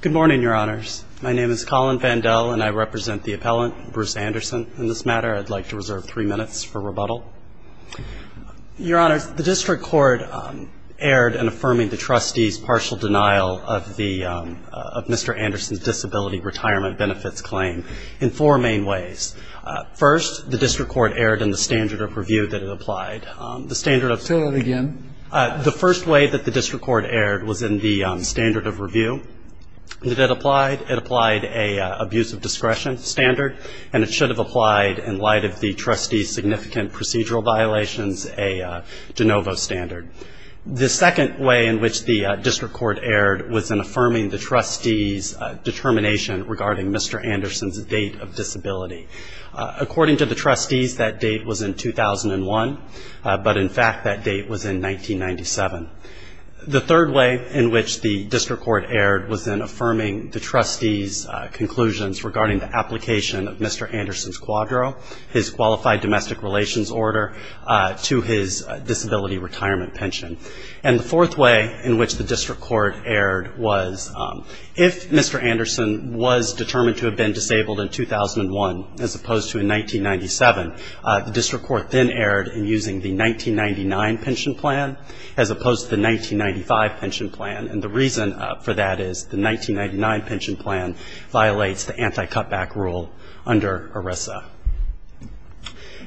Good morning, Your Honors. My name is Colin Vandell, and I represent the appellant, Bruce Anderson. In this matter, I'd like to reserve three minutes for rebuttal. Your Honors, the district court erred in affirming the trustee's partial denial of Mr. Anderson's disability retirement benefits claim in four main ways. First, the district court erred in the standard of review that it applied. The standard of – Say that again. The first way that the district court erred was in the standard of review that it applied. It applied an abuse of discretion standard, and it should have applied in light of the trustee's significant procedural violations a de novo standard. The second way in which the district court erred was in affirming the trustee's determination regarding Mr. Anderson's date of disability. According to the trustees, that date was in 2001, but in fact that date was in 1997. The third way in which the district court erred was in affirming the trustee's conclusions regarding the application of Mr. Anderson's quadro, his qualified domestic relations order, to his disability retirement pension. And the fourth way in which the district court erred was if Mr. Anderson was determined to have been disabled in 2001, as opposed to in 1997, the district court then erred in using the 1999 pension plan as opposed to the 1995 pension plan. And the reason for that is the 1999 pension plan violates the anti-cutback rule under ERISA.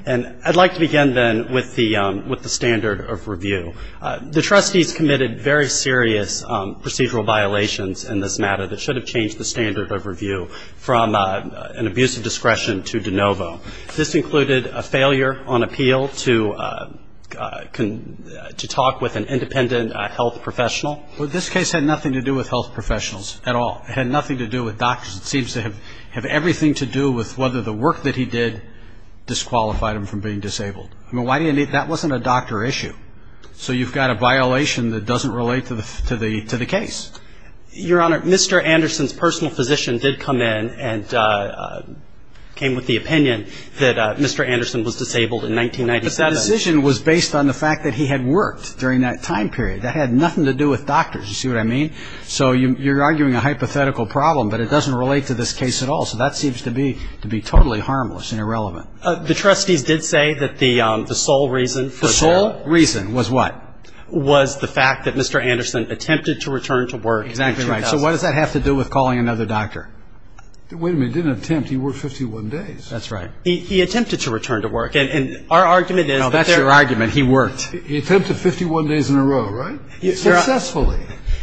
And I'd like to begin then with the standard of review. The trustees committed very serious procedural violations in this matter that should have changed the standard of review from an abuse of discretion to de novo. This included a failure on appeal to talk with an independent health professional. Well, this case had nothing to do with health professionals at all. It had nothing to do with doctors. It seems to have everything to do with whether the work that he did disqualified him from being disabled. I mean, that wasn't a doctor issue. So you've got a violation that doesn't relate to the case. Your Honor, Mr. Anderson's personal physician did come in and came with the opinion that Mr. Anderson was disabled in 1997. But the decision was based on the fact that he had worked during that time period. That had nothing to do with doctors. You see what I mean? So you're arguing a hypothetical problem, but it doesn't relate to this case at all. So that seems to be totally harmless and irrelevant. The trustees did say that the sole reason for that. The sole reason was what? Was the fact that Mr. Anderson attempted to return to work in 2000. Exactly right. So what does that have to do with calling another doctor? Wait a minute. He didn't attempt. He worked 51 days. That's right. He attempted to return to work. And our argument is that there. No, that's your argument. He worked. He attempted 51 days in a row, right? Successfully.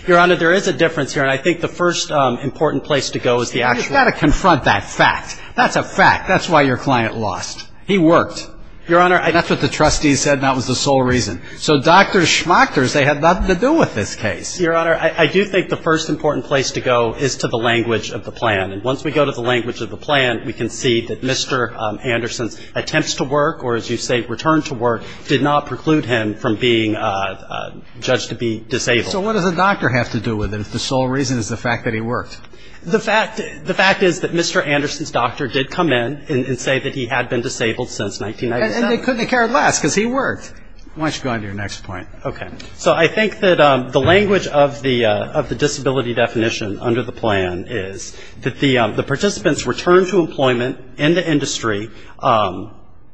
Your Honor, there is a difference here. And I think the first important place to go is the actual. You've got to confront that fact. That's a fact. That's why your client lost. He worked. Your Honor. That's what the trustees said. And that was the sole reason. So doctors, schmachters, they had nothing to do with this case. Your Honor, I do think the first important place to go is to the language of the plan. And once we go to the language of the plan, we can see that Mr. Anderson's attempts to work, or as you say, return to work, did not preclude him from being judged to be disabled. So what does a doctor have to do with it if the sole reason is the fact that he worked? The fact is that Mr. Anderson's doctor did come in and say that he had been disabled since 1997. And they couldn't have cared less because he worked. Why don't you go on to your next point. Okay. So I think that the language of the disability definition under the plan is that the participants returned to employment in the industry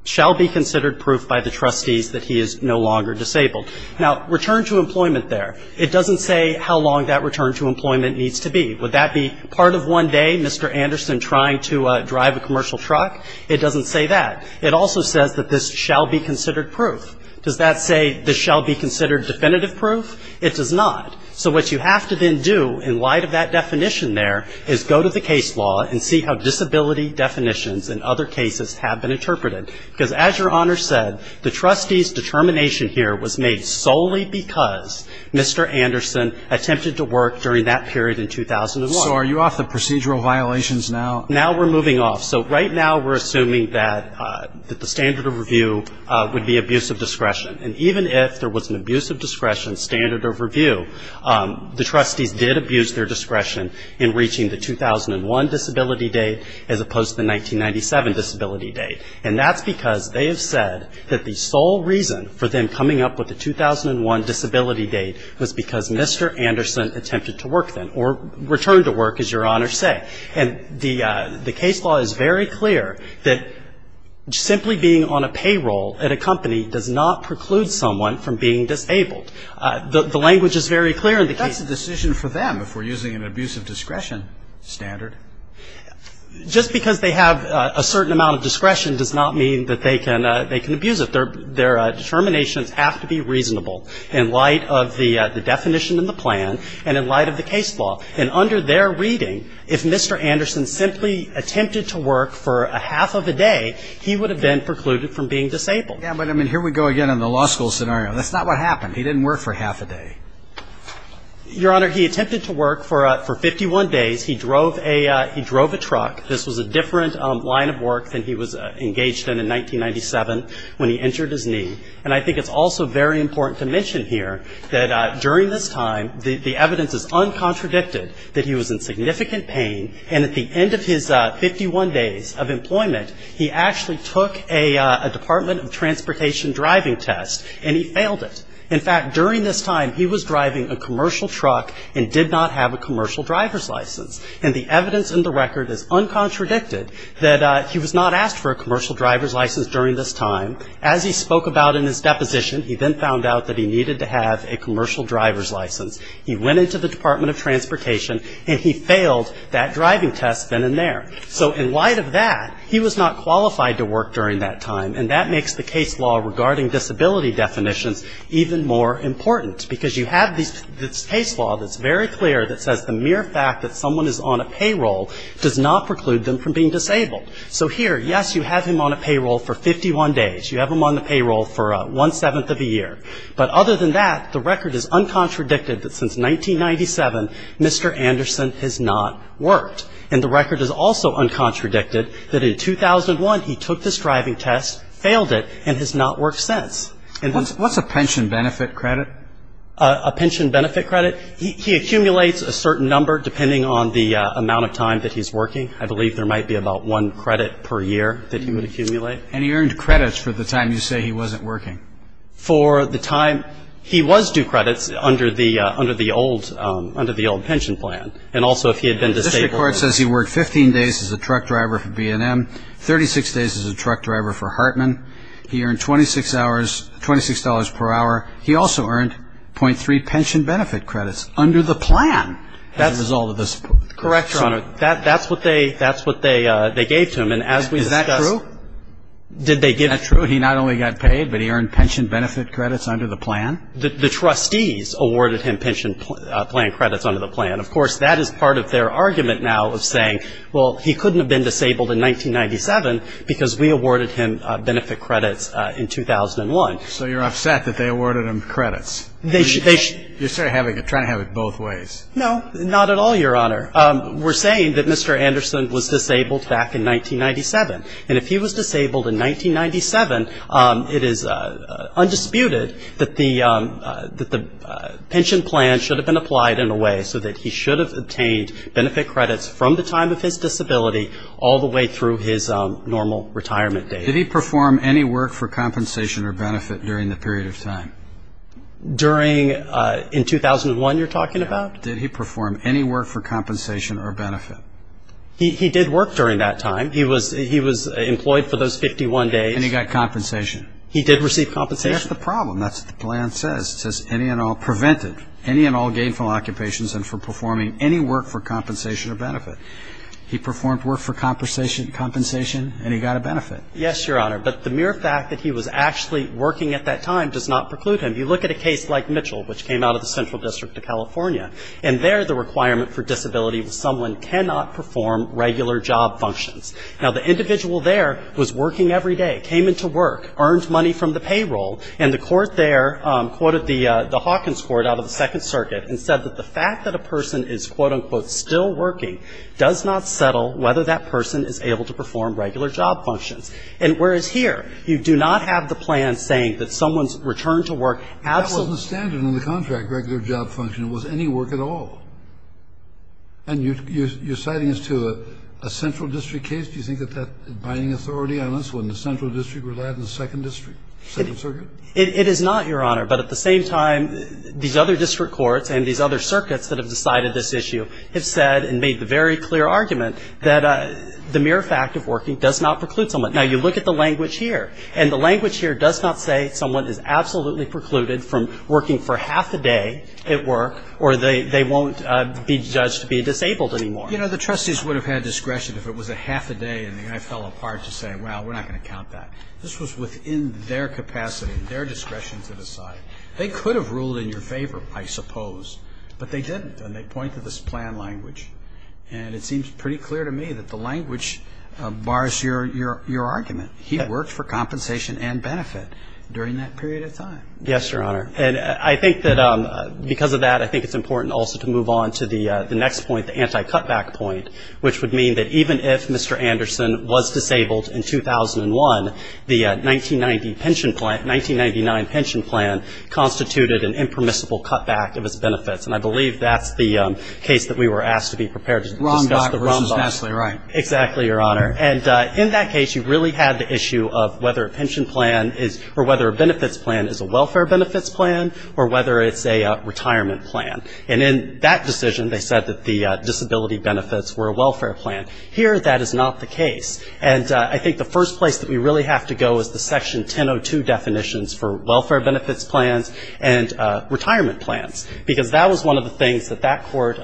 shall be considered proof by the trustees that he is no longer disabled. Now, return to employment there, it doesn't say how long that return to employment needs to be. Would that be part of one day Mr. Anderson trying to drive a commercial truck? It doesn't say that. It also says that this shall be considered proof. Does that say this shall be considered definitive proof? It does not. So what you have to then do in light of that definition there is go to the case law and see how disability definitions in other cases have been interpreted. Because as Your Honor said, the trustees' determination here was made solely because Mr. Anderson attempted to work during that period in 2001. So are you off the procedural violations now? Now we're moving off. So right now we're assuming that the standard of review would be abuse of discretion. And even if there was an abuse of discretion standard of review, the trustees did abuse their discretion in reaching the 2001 disability date as opposed to the 1997 disability date. And that's because they have said that the sole reason for them coming up with the 2001 disability date was because Mr. Anderson attempted to work then or return to work, as Your Honor said. And the case law is very clear that simply being on a payroll at a company does not preclude someone from being disabled. The language is very clear in the case. That's a decision for them if we're using an abuse of discretion standard. Just because they have a certain amount of discretion does not mean that they can abuse it. Their determinations have to be reasonable in light of the definition in the plan and in light of the case law. And under their reading, if Mr. Anderson simply attempted to work for a half of a day, he would have been precluded from being disabled. Yeah, but, I mean, here we go again on the law school scenario. That's not what happened. He didn't work for a half a day. Your Honor, he attempted to work for 51 days. He drove a truck. This was a different line of work than he was engaged in in 1997 when he injured his knee. And I think it's also very important to mention here that during this time, the evidence is uncontradicted that he was in significant pain, and at the end of his 51 days of employment, he actually took a Department of Transportation driving test, and he failed it. In fact, during this time, he was driving a commercial truck and did not have a commercial driver's license. And the evidence in the record is uncontradicted that he was not asked for a commercial driver's license during this time. As he spoke about in his deposition, he then found out that he needed to have a commercial driver's license. He went into the Department of Transportation, and he failed that driving test then and there. So in light of that, he was not qualified to work during that time, and that makes the case law regarding disability definitions even more important, because you have this case law that's very clear that says the mere fact that someone is on a payroll does not preclude them from being disabled. So here, yes, you have him on a payroll for 51 days. You have him on the payroll for one-seventh of a year. But other than that, the record is uncontradicted that since 1997, Mr. Anderson has not worked. And the record is also uncontradicted that in 2001, he took this driving test, failed it, and has not worked since. What's a pension benefit credit? A pension benefit credit? He accumulates a certain number depending on the amount of time that he's working. I believe there might be about one credit per year that he would accumulate. And he earned credits for the time you say he wasn't working? For the time he was due credits under the old pension plan. And also if he had been disabled. The district court says he worked 15 days as a truck driver for B&M, 36 days as a truck driver for Hartman. He earned $26 per hour. He also earned .3 pension benefit credits under the plan as a result of this. Correct, Your Honor. That's what they gave to him. And as we discussed. Is that true? Did they give him? Is that true? He not only got paid, but he earned pension benefit credits under the plan? The trustees awarded him pension plan credits under the plan. Of course, that is part of their argument now of saying, well, he couldn't have been disabled in 1997 because we awarded him benefit credits in 2001. So you're upset that they awarded him credits? You're trying to have it both ways. No, not at all, Your Honor. We're saying that Mr. Anderson was disabled back in 1997. And if he was disabled in 1997, it is undisputed that the pension plan should have been applied in a way so that he should have obtained benefit credits from the time of his disability all the way through his normal retirement date. Did he perform any work for compensation or benefit during the period of time? During, in 2001 you're talking about? Did he perform any work for compensation or benefit? He did work during that time. He was employed for those 51 days. And he got compensation? He did receive compensation. That's the problem. That's what the plan says. It says any and all, prevented any and all gainful occupations and for performing any work for compensation or benefit. He performed work for compensation and he got a benefit. Yes, Your Honor. But the mere fact that he was actually working at that time does not preclude him. You look at a case like Mitchell, which came out of the Central District of California, and there the requirement for disability was someone cannot perform regular job functions. Now, the individual there was working every day, came into work, earned money from the payroll, and the court there quoted the Hawkins Court out of the Second Circuit and said that the fact that a person is, quote, unquote, still working does not settle whether that person is able to perform regular job functions. And whereas here you do not have the plan saying that someone's returned to work. That wasn't the standard in the contract, regular job function. It wasn't any work at all. And you're citing this to a Central District case? Do you think that that is binding authority on this when the Central District relied on the Second District? It is not, Your Honor. But at the same time, these other district courts and these other circuits that have decided this issue have said and made the very clear argument that the mere fact of working does not preclude someone. Now, you look at the language here. And the language here does not say someone is absolutely precluded from working for half a day at work or they won't be judged to be disabled anymore. You know, the trustees would have had discretion if it was a half a day and the guy fell apart to say, well, we're not going to count that. This was within their capacity and their discretion to decide. They could have ruled in your favor, I suppose, but they didn't. And they pointed to this plan language. And it seems pretty clear to me that the language bars your argument. He worked for compensation and benefit during that period of time. Yes, Your Honor. And I think that because of that, I think it's important also to move on to the next point, the anti-cutback point, which would mean that even if Mr. Anderson was disabled in 2001, the 1990 pension plan, 1999 pension plan constituted an impermissible cutback of his benefits. And I believe that's the case that we were asked to be prepared to discuss. Rombach versus Nassely, right. Exactly, Your Honor. And in that case, you really had the issue of whether a pension plan is or whether a benefits plan is a welfare benefits plan or whether it's a retirement plan. And in that decision, they said that the disability benefits were a welfare plan. Here, that is not the case. And I think the first place that we really have to go is the Section 1002 definitions for welfare benefits plans and retirement plans, because that was one of the things that that court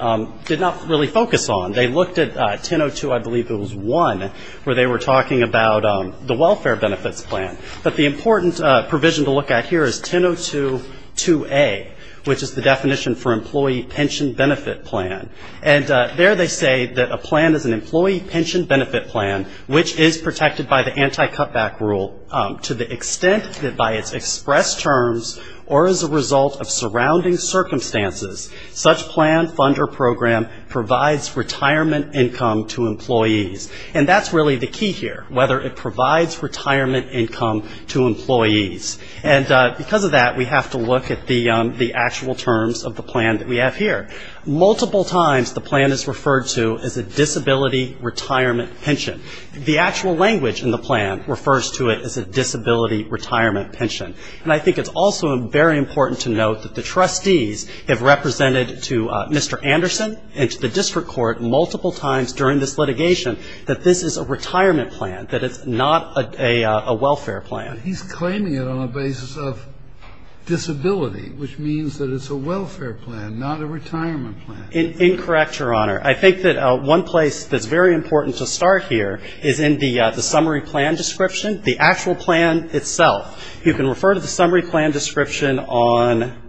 did not really focus on. They looked at 1002, I believe it was 1, where they were talking about the welfare benefits plan. But the important provision to look at here is 1002-2A, which is the definition for employee pension benefit plan. And there they say that a plan is an employee pension benefit plan, which is protected by the anti-cutback rule to the extent that by its express terms or as a result of surrounding circumstances, such plan, fund, or program provides retirement income to employees. And that's really the key here, whether it provides retirement income to employees. And because of that, we have to look at the actual terms of the plan that we have here. Multiple times, the plan is referred to as a disability retirement pension. The actual language in the plan refers to it as a disability retirement pension. And I think it's also very important to note that the trustees have represented to Mr. Anderson and to the district court multiple times during this litigation that this is a retirement plan, that it's not a welfare plan. But he's claiming it on the basis of disability, which means that it's a welfare plan, not a retirement plan. Incorrect, Your Honor. I think that one place that's very important to start here is in the summary plan description, the actual plan itself. You can refer to the summary plan description on,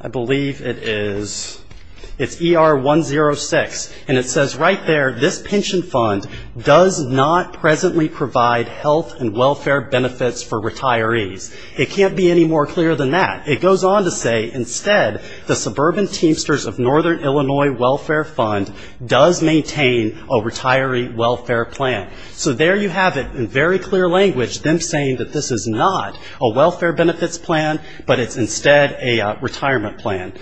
I believe it is, it's ER 106. And it says right there, this pension fund does not presently provide health and welfare benefits for retirees. It can't be any more clear than that. It goes on to say, instead, the Suburban Teamsters of Northern Illinois Welfare Fund does maintain a retiree welfare plan. So there you have it, in very clear language, them saying that this is not a welfare benefits plan, but it's instead a retirement plan.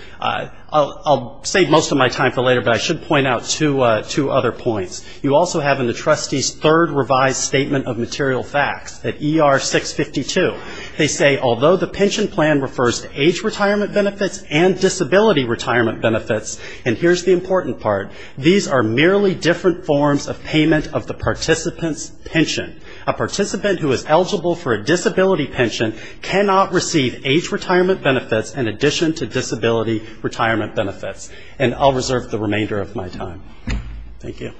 I'll save most of my time for later, but I should point out two other points. You also have in the trustees' third revised statement of material facts at ER 652. They say, although the pension plan refers to age retirement benefits and disability retirement benefits, and here's the important part, these are merely different forms of payment of the participant's pension. A participant who is eligible for a disability pension cannot receive age retirement benefits in addition to disability retirement benefits. And I'll reserve the remainder of my time. Thank you.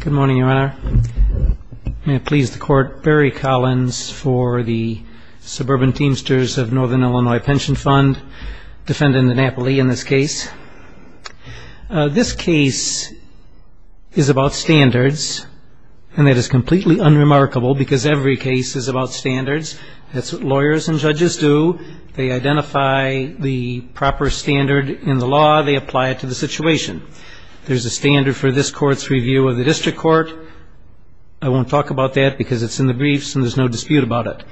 Good morning, Your Honor. May it please the Court, Barry Collins for the Suburban Teamsters of Northern Illinois Pension Fund, defendant Napoli in this case. This case is about standards, and that is completely unremarkable because every case is about standards. That's what lawyers and judges do. They identify the proper standard in the law. They apply it to the situation. There's a standard for this court's review of the district court. I won't talk about that because it's in the briefs and there's no dispute about it.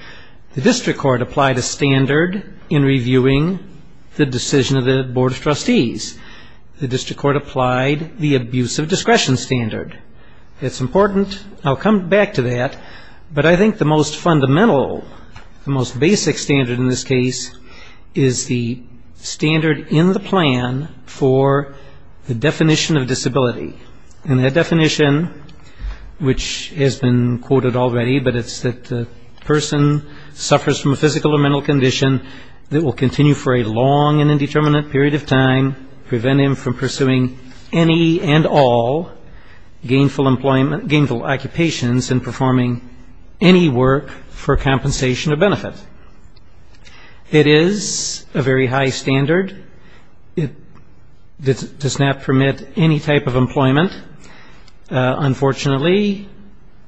The district court applied a standard in reviewing the decision of the Board of Trustees. The district court applied the abuse of discretion standard. It's important. I'll come back to that. But I think the most fundamental, the most basic standard in this case is the standard in the plan for the definition of disability. And that definition, which has been quoted already, but it's that a person suffers from a physical or mental condition that will continue for a long and indeterminate period of time, prevent him from pursuing any and all gainful occupations and performing any work for compensation or benefit. It is a very high standard. It does not permit any type of employment, unfortunately.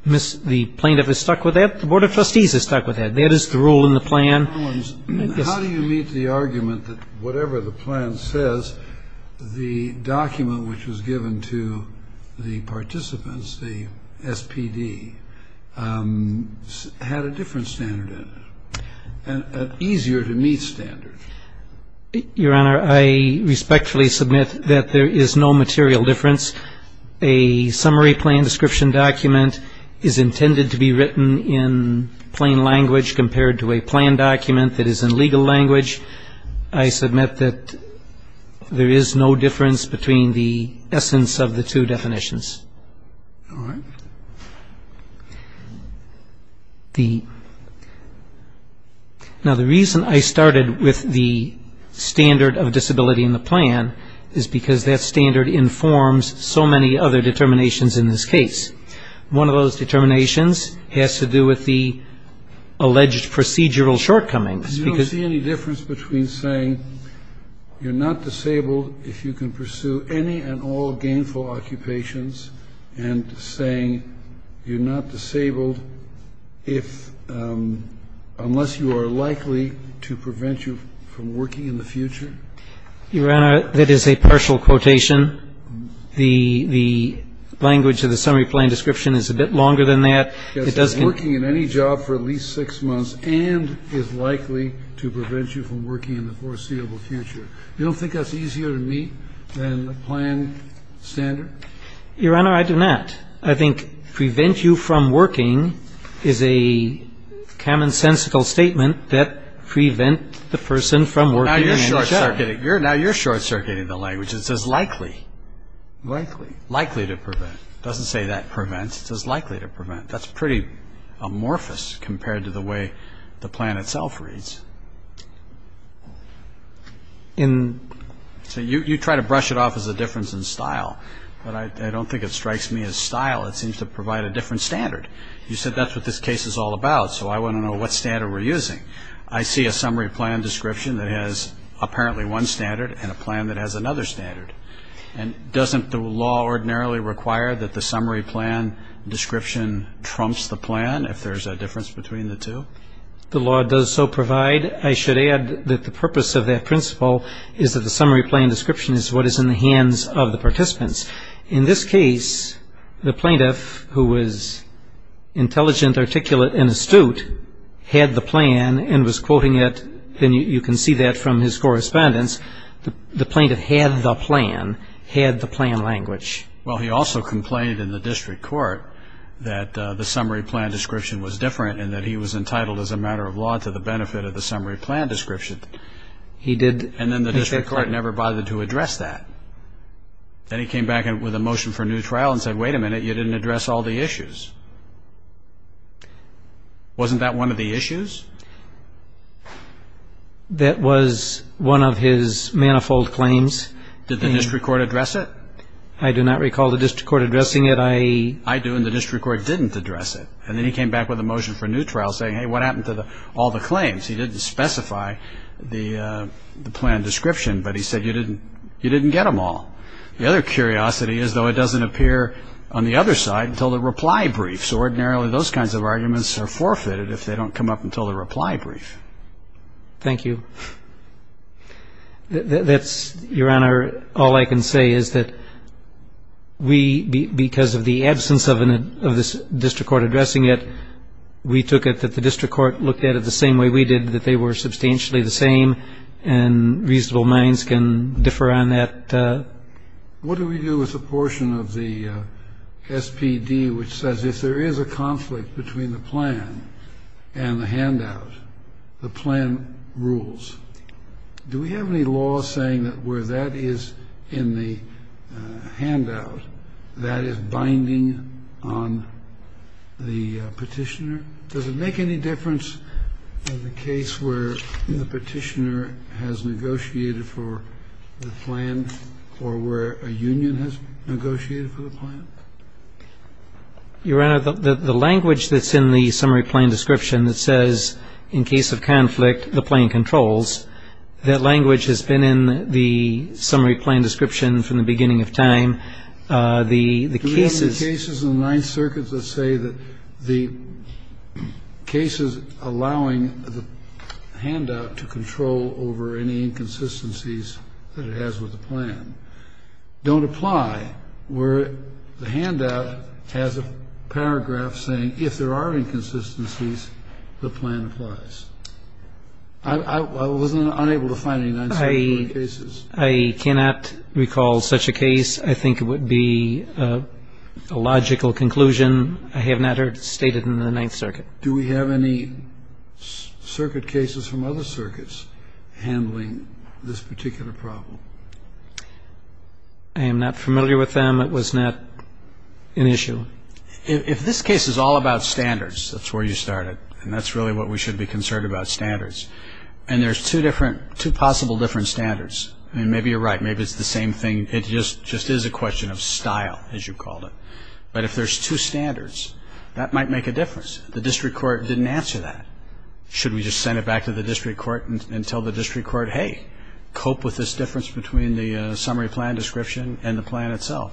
The plaintiff is stuck with that. The Board of Trustees is stuck with that. That is the rule in the plan. How do you meet the argument that whatever the plan says, the document which was given to the participants, the SPD, had a different standard in it, an easier-to-meet standard? Your Honor, I respectfully submit that there is no material difference. A summary plan description document is intended to be written in plain language compared to a plan document that is in legal language. I submit that there is no difference between the essence of the two definitions. All right. Now, the reason I started with the standard of disability in the plan is because that standard informs so many other determinations in this case. One of those determinations has to do with the alleged procedural shortcomings. Do you see any difference between saying you're not disabled if you can pursue any and all gainful occupations and saying you're not disabled unless you are likely to prevent you from working in the future? Your Honor, that is a partial quotation. The language of the summary plan description is a bit longer than that. It says working in any job for at least six months and is likely to prevent you from working in the foreseeable future. You don't think that's easier to meet than the plan standard? Your Honor, I do not. I think prevent you from working is a commonsensical statement that prevent the person from working in the future. Now you're short-circuiting the language. It says likely. Likely. Likely to prevent. It doesn't say that prevent. It says likely to prevent. That's pretty amorphous compared to the way the plan itself reads. So you try to brush it off as a difference in style, but I don't think it strikes me as style. It seems to provide a different standard. You said that's what this case is all about, so I want to know what standard we're using. I see a summary plan description that has apparently one standard and a plan that has another standard. And doesn't the law ordinarily require that the summary plan description trumps the plan if there's a difference between the two? The law does so provide. I should add that the purpose of that principle is that the summary plan description is what is in the hands of the participants. In this case, the plaintiff, who was intelligent, articulate, and astute, had the plan and was quoting it, and you can see that from his correspondence. The plaintiff had the plan, had the plan language. Well, he also complained in the district court that the summary plan description was different and that he was entitled as a matter of law to the benefit of the summary plan description. And then the district court never bothered to address that. Then he came back with a motion for a new trial and said, wait a minute, you didn't address all the issues. Wasn't that one of the issues? That was one of his manifold claims. Did the district court address it? I do not recall the district court addressing it. I do, and the district court didn't address it. And then he came back with a motion for a new trial saying, hey, what happened to all the claims? He didn't specify the plan description, but he said you didn't get them all. The other curiosity is, though, it doesn't appear on the other side until the reply briefs. And ordinarily, those kinds of arguments are forfeited if they don't come up until the reply brief. Thank you. That's, Your Honor, all I can say is that we, because of the absence of this district court addressing it, we took it that the district court looked at it the same way we did, that they were substantially the same, and reasonable minds can differ on that. What do we do with the portion of the SPD which says if there is a conflict between the plan and the handout, the plan rules? Do we have any law saying that where that is in the handout, that is binding on the petitioner? Does it make any difference in the case where the petitioner has negotiated for the plan or where a union has negotiated for the plan? Your Honor, the language that's in the summary plan description that says in case of conflict, the plan controls, that language has been in the summary plan description from the beginning of time. The cases in the Ninth Circuit that say that the cases allowing the handout to control over any inconsistencies that it has with the plan don't apply, where the handout has a paragraph saying if there are inconsistencies, the plan applies. I wasn't unable to find any Ninth Circuit cases. I cannot recall such a case. I think it would be a logical conclusion. I have not heard it stated in the Ninth Circuit. Do we have any circuit cases from other circuits handling this particular problem? I am not familiar with them. It was not an issue. If this case is all about standards, that's where you started, and that's really what we should be concerned about, standards. There are two possible different standards. Maybe you're right. Maybe it's the same thing. It just is a question of style, as you called it. But if there are two standards, that might make a difference. The district court didn't answer that. Should we just send it back to the district court and tell the district court, hey, cope with this difference between the summary plan description and the plan itself?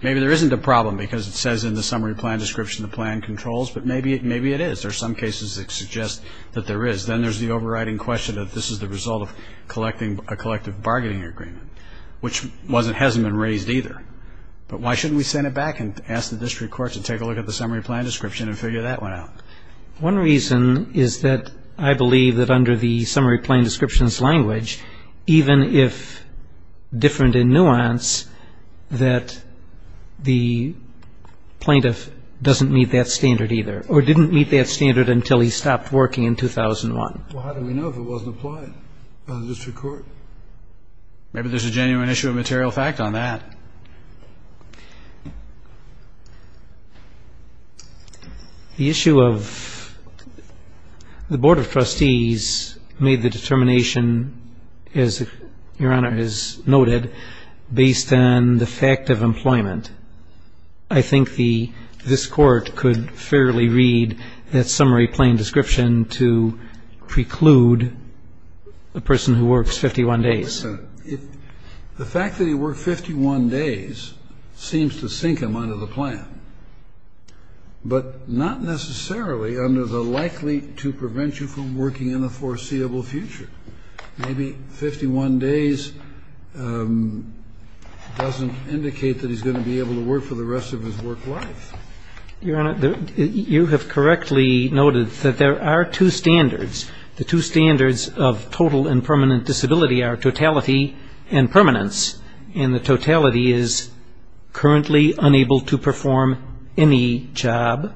Maybe there isn't a problem because it says in the summary plan description the plan controls, but maybe it is. There are some cases that suggest that there is. Then there's the overriding question that this is the result of a collective bargaining agreement, which hasn't been raised either. But why shouldn't we send it back and ask the district court to take a look at the summary plan description and figure that one out? One reason is that I believe that under the summary plan description's language, even if different in nuance, that the plaintiff doesn't meet that standard either or didn't meet that standard until he stopped working in 2001. Well, how do we know if it wasn't applied by the district court? Maybe there's a genuine issue of material fact on that. The issue of the Board of Trustees made the determination, as Your Honor has noted, based on the fact of employment. I think this Court could fairly read that summary plan description to preclude a person who works 51 days. The fact that he worked 51 days seems to sink him under the plan, but not necessarily under the likely to prevent you from working in the foreseeable future. Maybe 51 days doesn't indicate that he's going to be able to work for the rest of his work life. Your Honor, you have correctly noted that there are two standards. The two standards of total and permanent disability are totality and permanence, and the totality is currently unable to perform any job,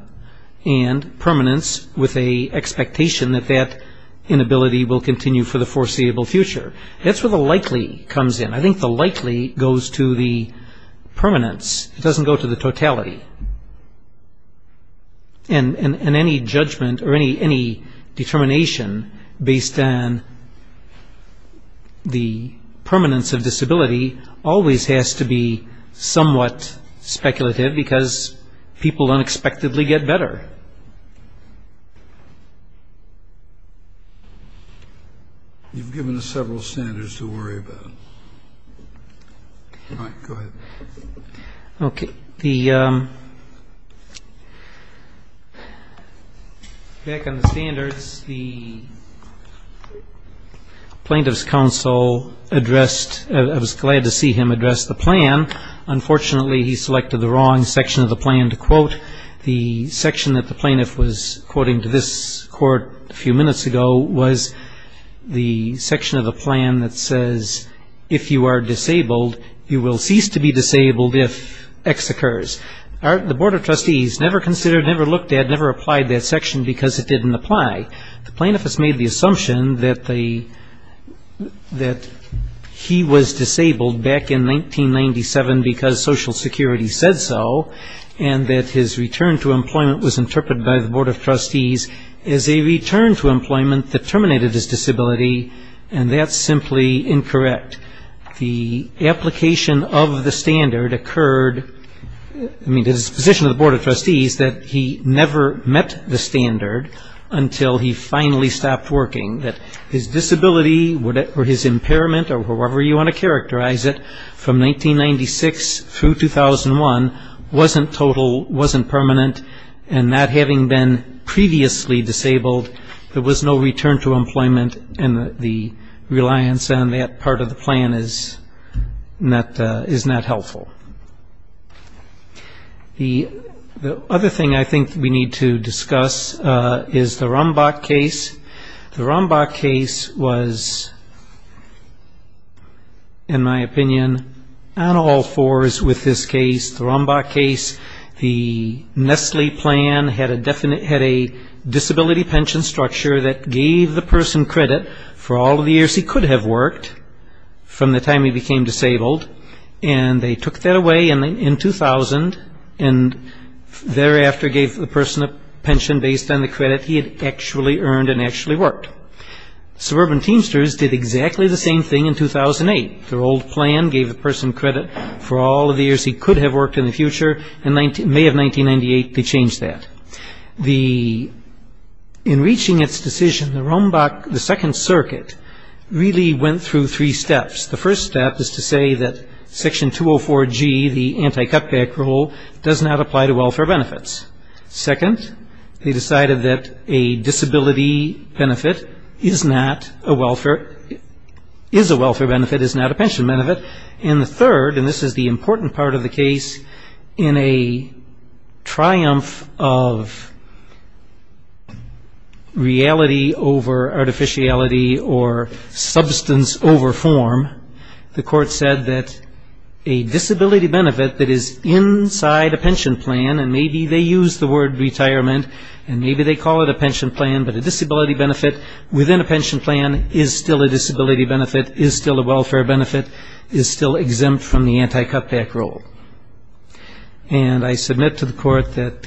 and permanence with an expectation that that inability will continue for the foreseeable future. That's where the likely comes in. I think the likely goes to the permanence. It doesn't go to the totality. And any judgment or any determination based on the permanence of disability always has to be somewhat speculative because people unexpectedly get better. You've given us several standards to worry about. All right, go ahead. Okay. The back on the standards, the plaintiff's counsel addressed, I was glad to see him address the plan. Unfortunately, he selected the wrong section of the plan to quote. The section that the plaintiff was quoting to this court a few minutes ago was the section of the plan that says, if you are disabled, you will cease to be disabled if X occurs. The Board of Trustees never considered, never looked at, never applied that section because it didn't apply. The plaintiff has made the assumption that he was disabled back in 1997 because Social Security said so, and that his return to employment was interpreted by the Board of Trustees as a return to employment that terminated his disability, and that's simply incorrect. The application of the standard occurred, I mean, the position of the Board of Trustees, that he never met the standard until he finally stopped working, that his disability or his impairment, or however you want to characterize it, from 1996 through 2001 wasn't total, wasn't permanent, and that having been previously disabled, there was no return to employment, and the reliance on that part of the plan is not helpful. The other thing I think we need to discuss is the Rombach case. The Rombach case was, in my opinion, on all fours with this case. The Rombach case, the Nestle plan had a disability pension structure that gave the person credit for all of the years he could have worked from the time he became disabled, and they took that away in 2000, and thereafter gave the person a pension based on the credit he had actually earned and actually worked. Suburban Teamsters did exactly the same thing in 2008. Their old plan gave the person credit for all of the years he could have worked in the future, and may of 1998 they changed that. In reaching its decision, the Rombach, the Second Circuit, really went through three steps. The first step is to say that Section 204G, the anti-cutback rule, does not apply to welfare benefits. Second, they decided that a disability benefit is not a welfare, is a welfare benefit, is not a pension benefit. And the third, and this is the important part of the case, in a triumph of reality over artificiality or substance over form, the court said that a disability benefit that is inside a pension plan, and maybe they used the word retirement, and maybe they call it a pension plan, but a disability benefit within a pension plan is still a disability benefit, is still a welfare benefit, is still exempt from the anti-cutback rule. And I submit to the court that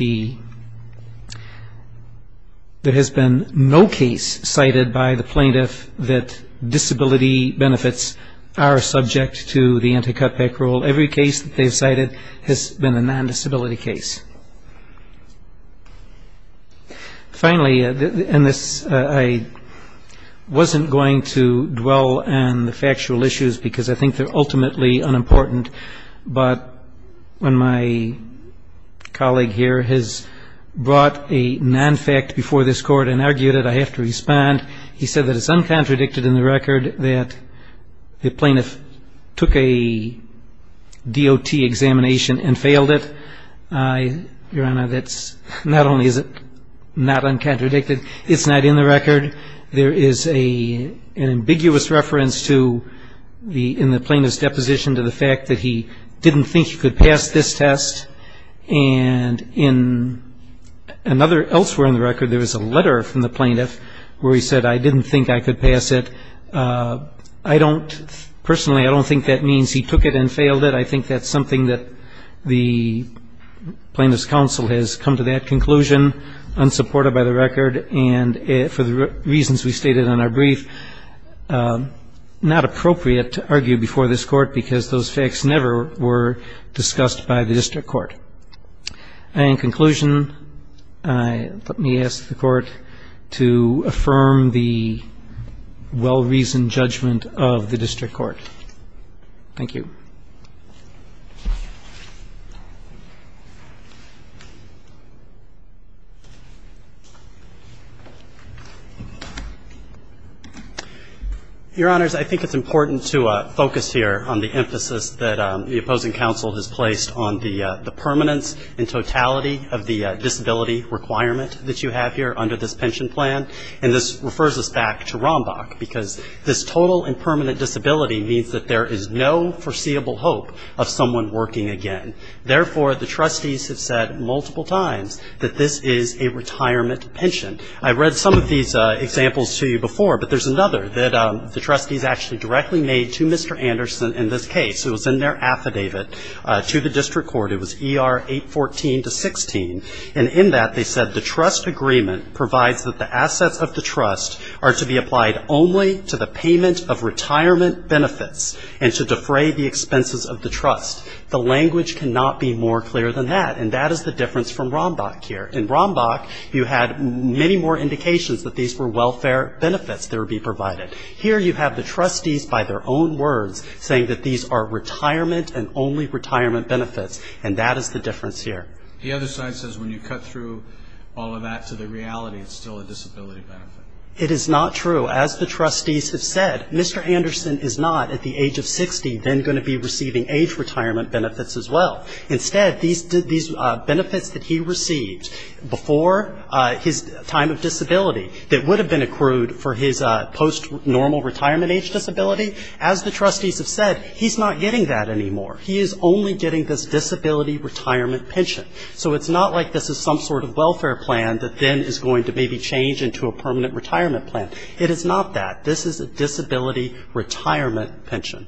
there has been no case cited by the plaintiff that disability benefits are subject to the anti-cutback rule. Every case that they've cited has been a non-disability case. Finally, and this, I wasn't going to dwell on the factual issues, because I think they're ultimately unimportant, but when my colleague here has brought a non-fact before this Court and argued it, I have to respond. He said that it's uncontradicted in the record that the plaintiff took a DOT examination and failed it. Your Honor, that's not only is it not uncontradicted, it's not in the record. There is an ambiguous reference in the plaintiff's deposition to the fact that he didn't think he could pass this test, and elsewhere in the record there was a letter from the plaintiff where he said, I didn't think I could pass it. I don't, personally, I don't think that means he took it and failed it. I think that's something that the plaintiff's counsel has come to that conclusion, unsupported by the record, and for the reasons we stated in our brief, not appropriate to argue before this Court, because those facts never were discussed by the district court. In conclusion, let me ask the Court to affirm the well-reasoned judgment of the district court. Thank you. Your Honors, I think it's important to focus here on the emphasis that the opposing counsel has placed on the permanence and totality of the disability requirement that you have here under this pension plan, and this refers us back to Rombach, because this total and permanent disability means that there is no foreseeable hope of someone working again. Therefore, the trustees have said multiple times that this is a retirement pension. I read some of these examples to you before, but there's another that the trustees actually directly made to Mr. Anderson in this case. It was in their affidavit to the district court. It was ER 814-16, and in that they said the trust agreement provides that the assets of the trust are to be applied only to the payment of retirement benefits and to defray the expenses of the trust. The language cannot be more clear than that, and that is the difference from Rombach here. In Rombach, you had many more indications that these were welfare benefits that would be provided. Here you have the trustees by their own words saying that these are retirement and only retirement benefits, and that is the difference here. The other side says when you cut through all of that to the reality, it's still a disability benefit. It is not true. As the trustees have said, Mr. Anderson is not at the age of 60 then going to be receiving age retirement benefits as well. Instead, these benefits that he received before his time of disability that would have been accrued for his post-normal retirement age disability, as the trustees have said, he's not getting that anymore. He is only getting this disability retirement pension. So it's not like this is some sort of welfare plan that then is going to maybe change into a permanent retirement plan. It is not that. This is a disability retirement pension.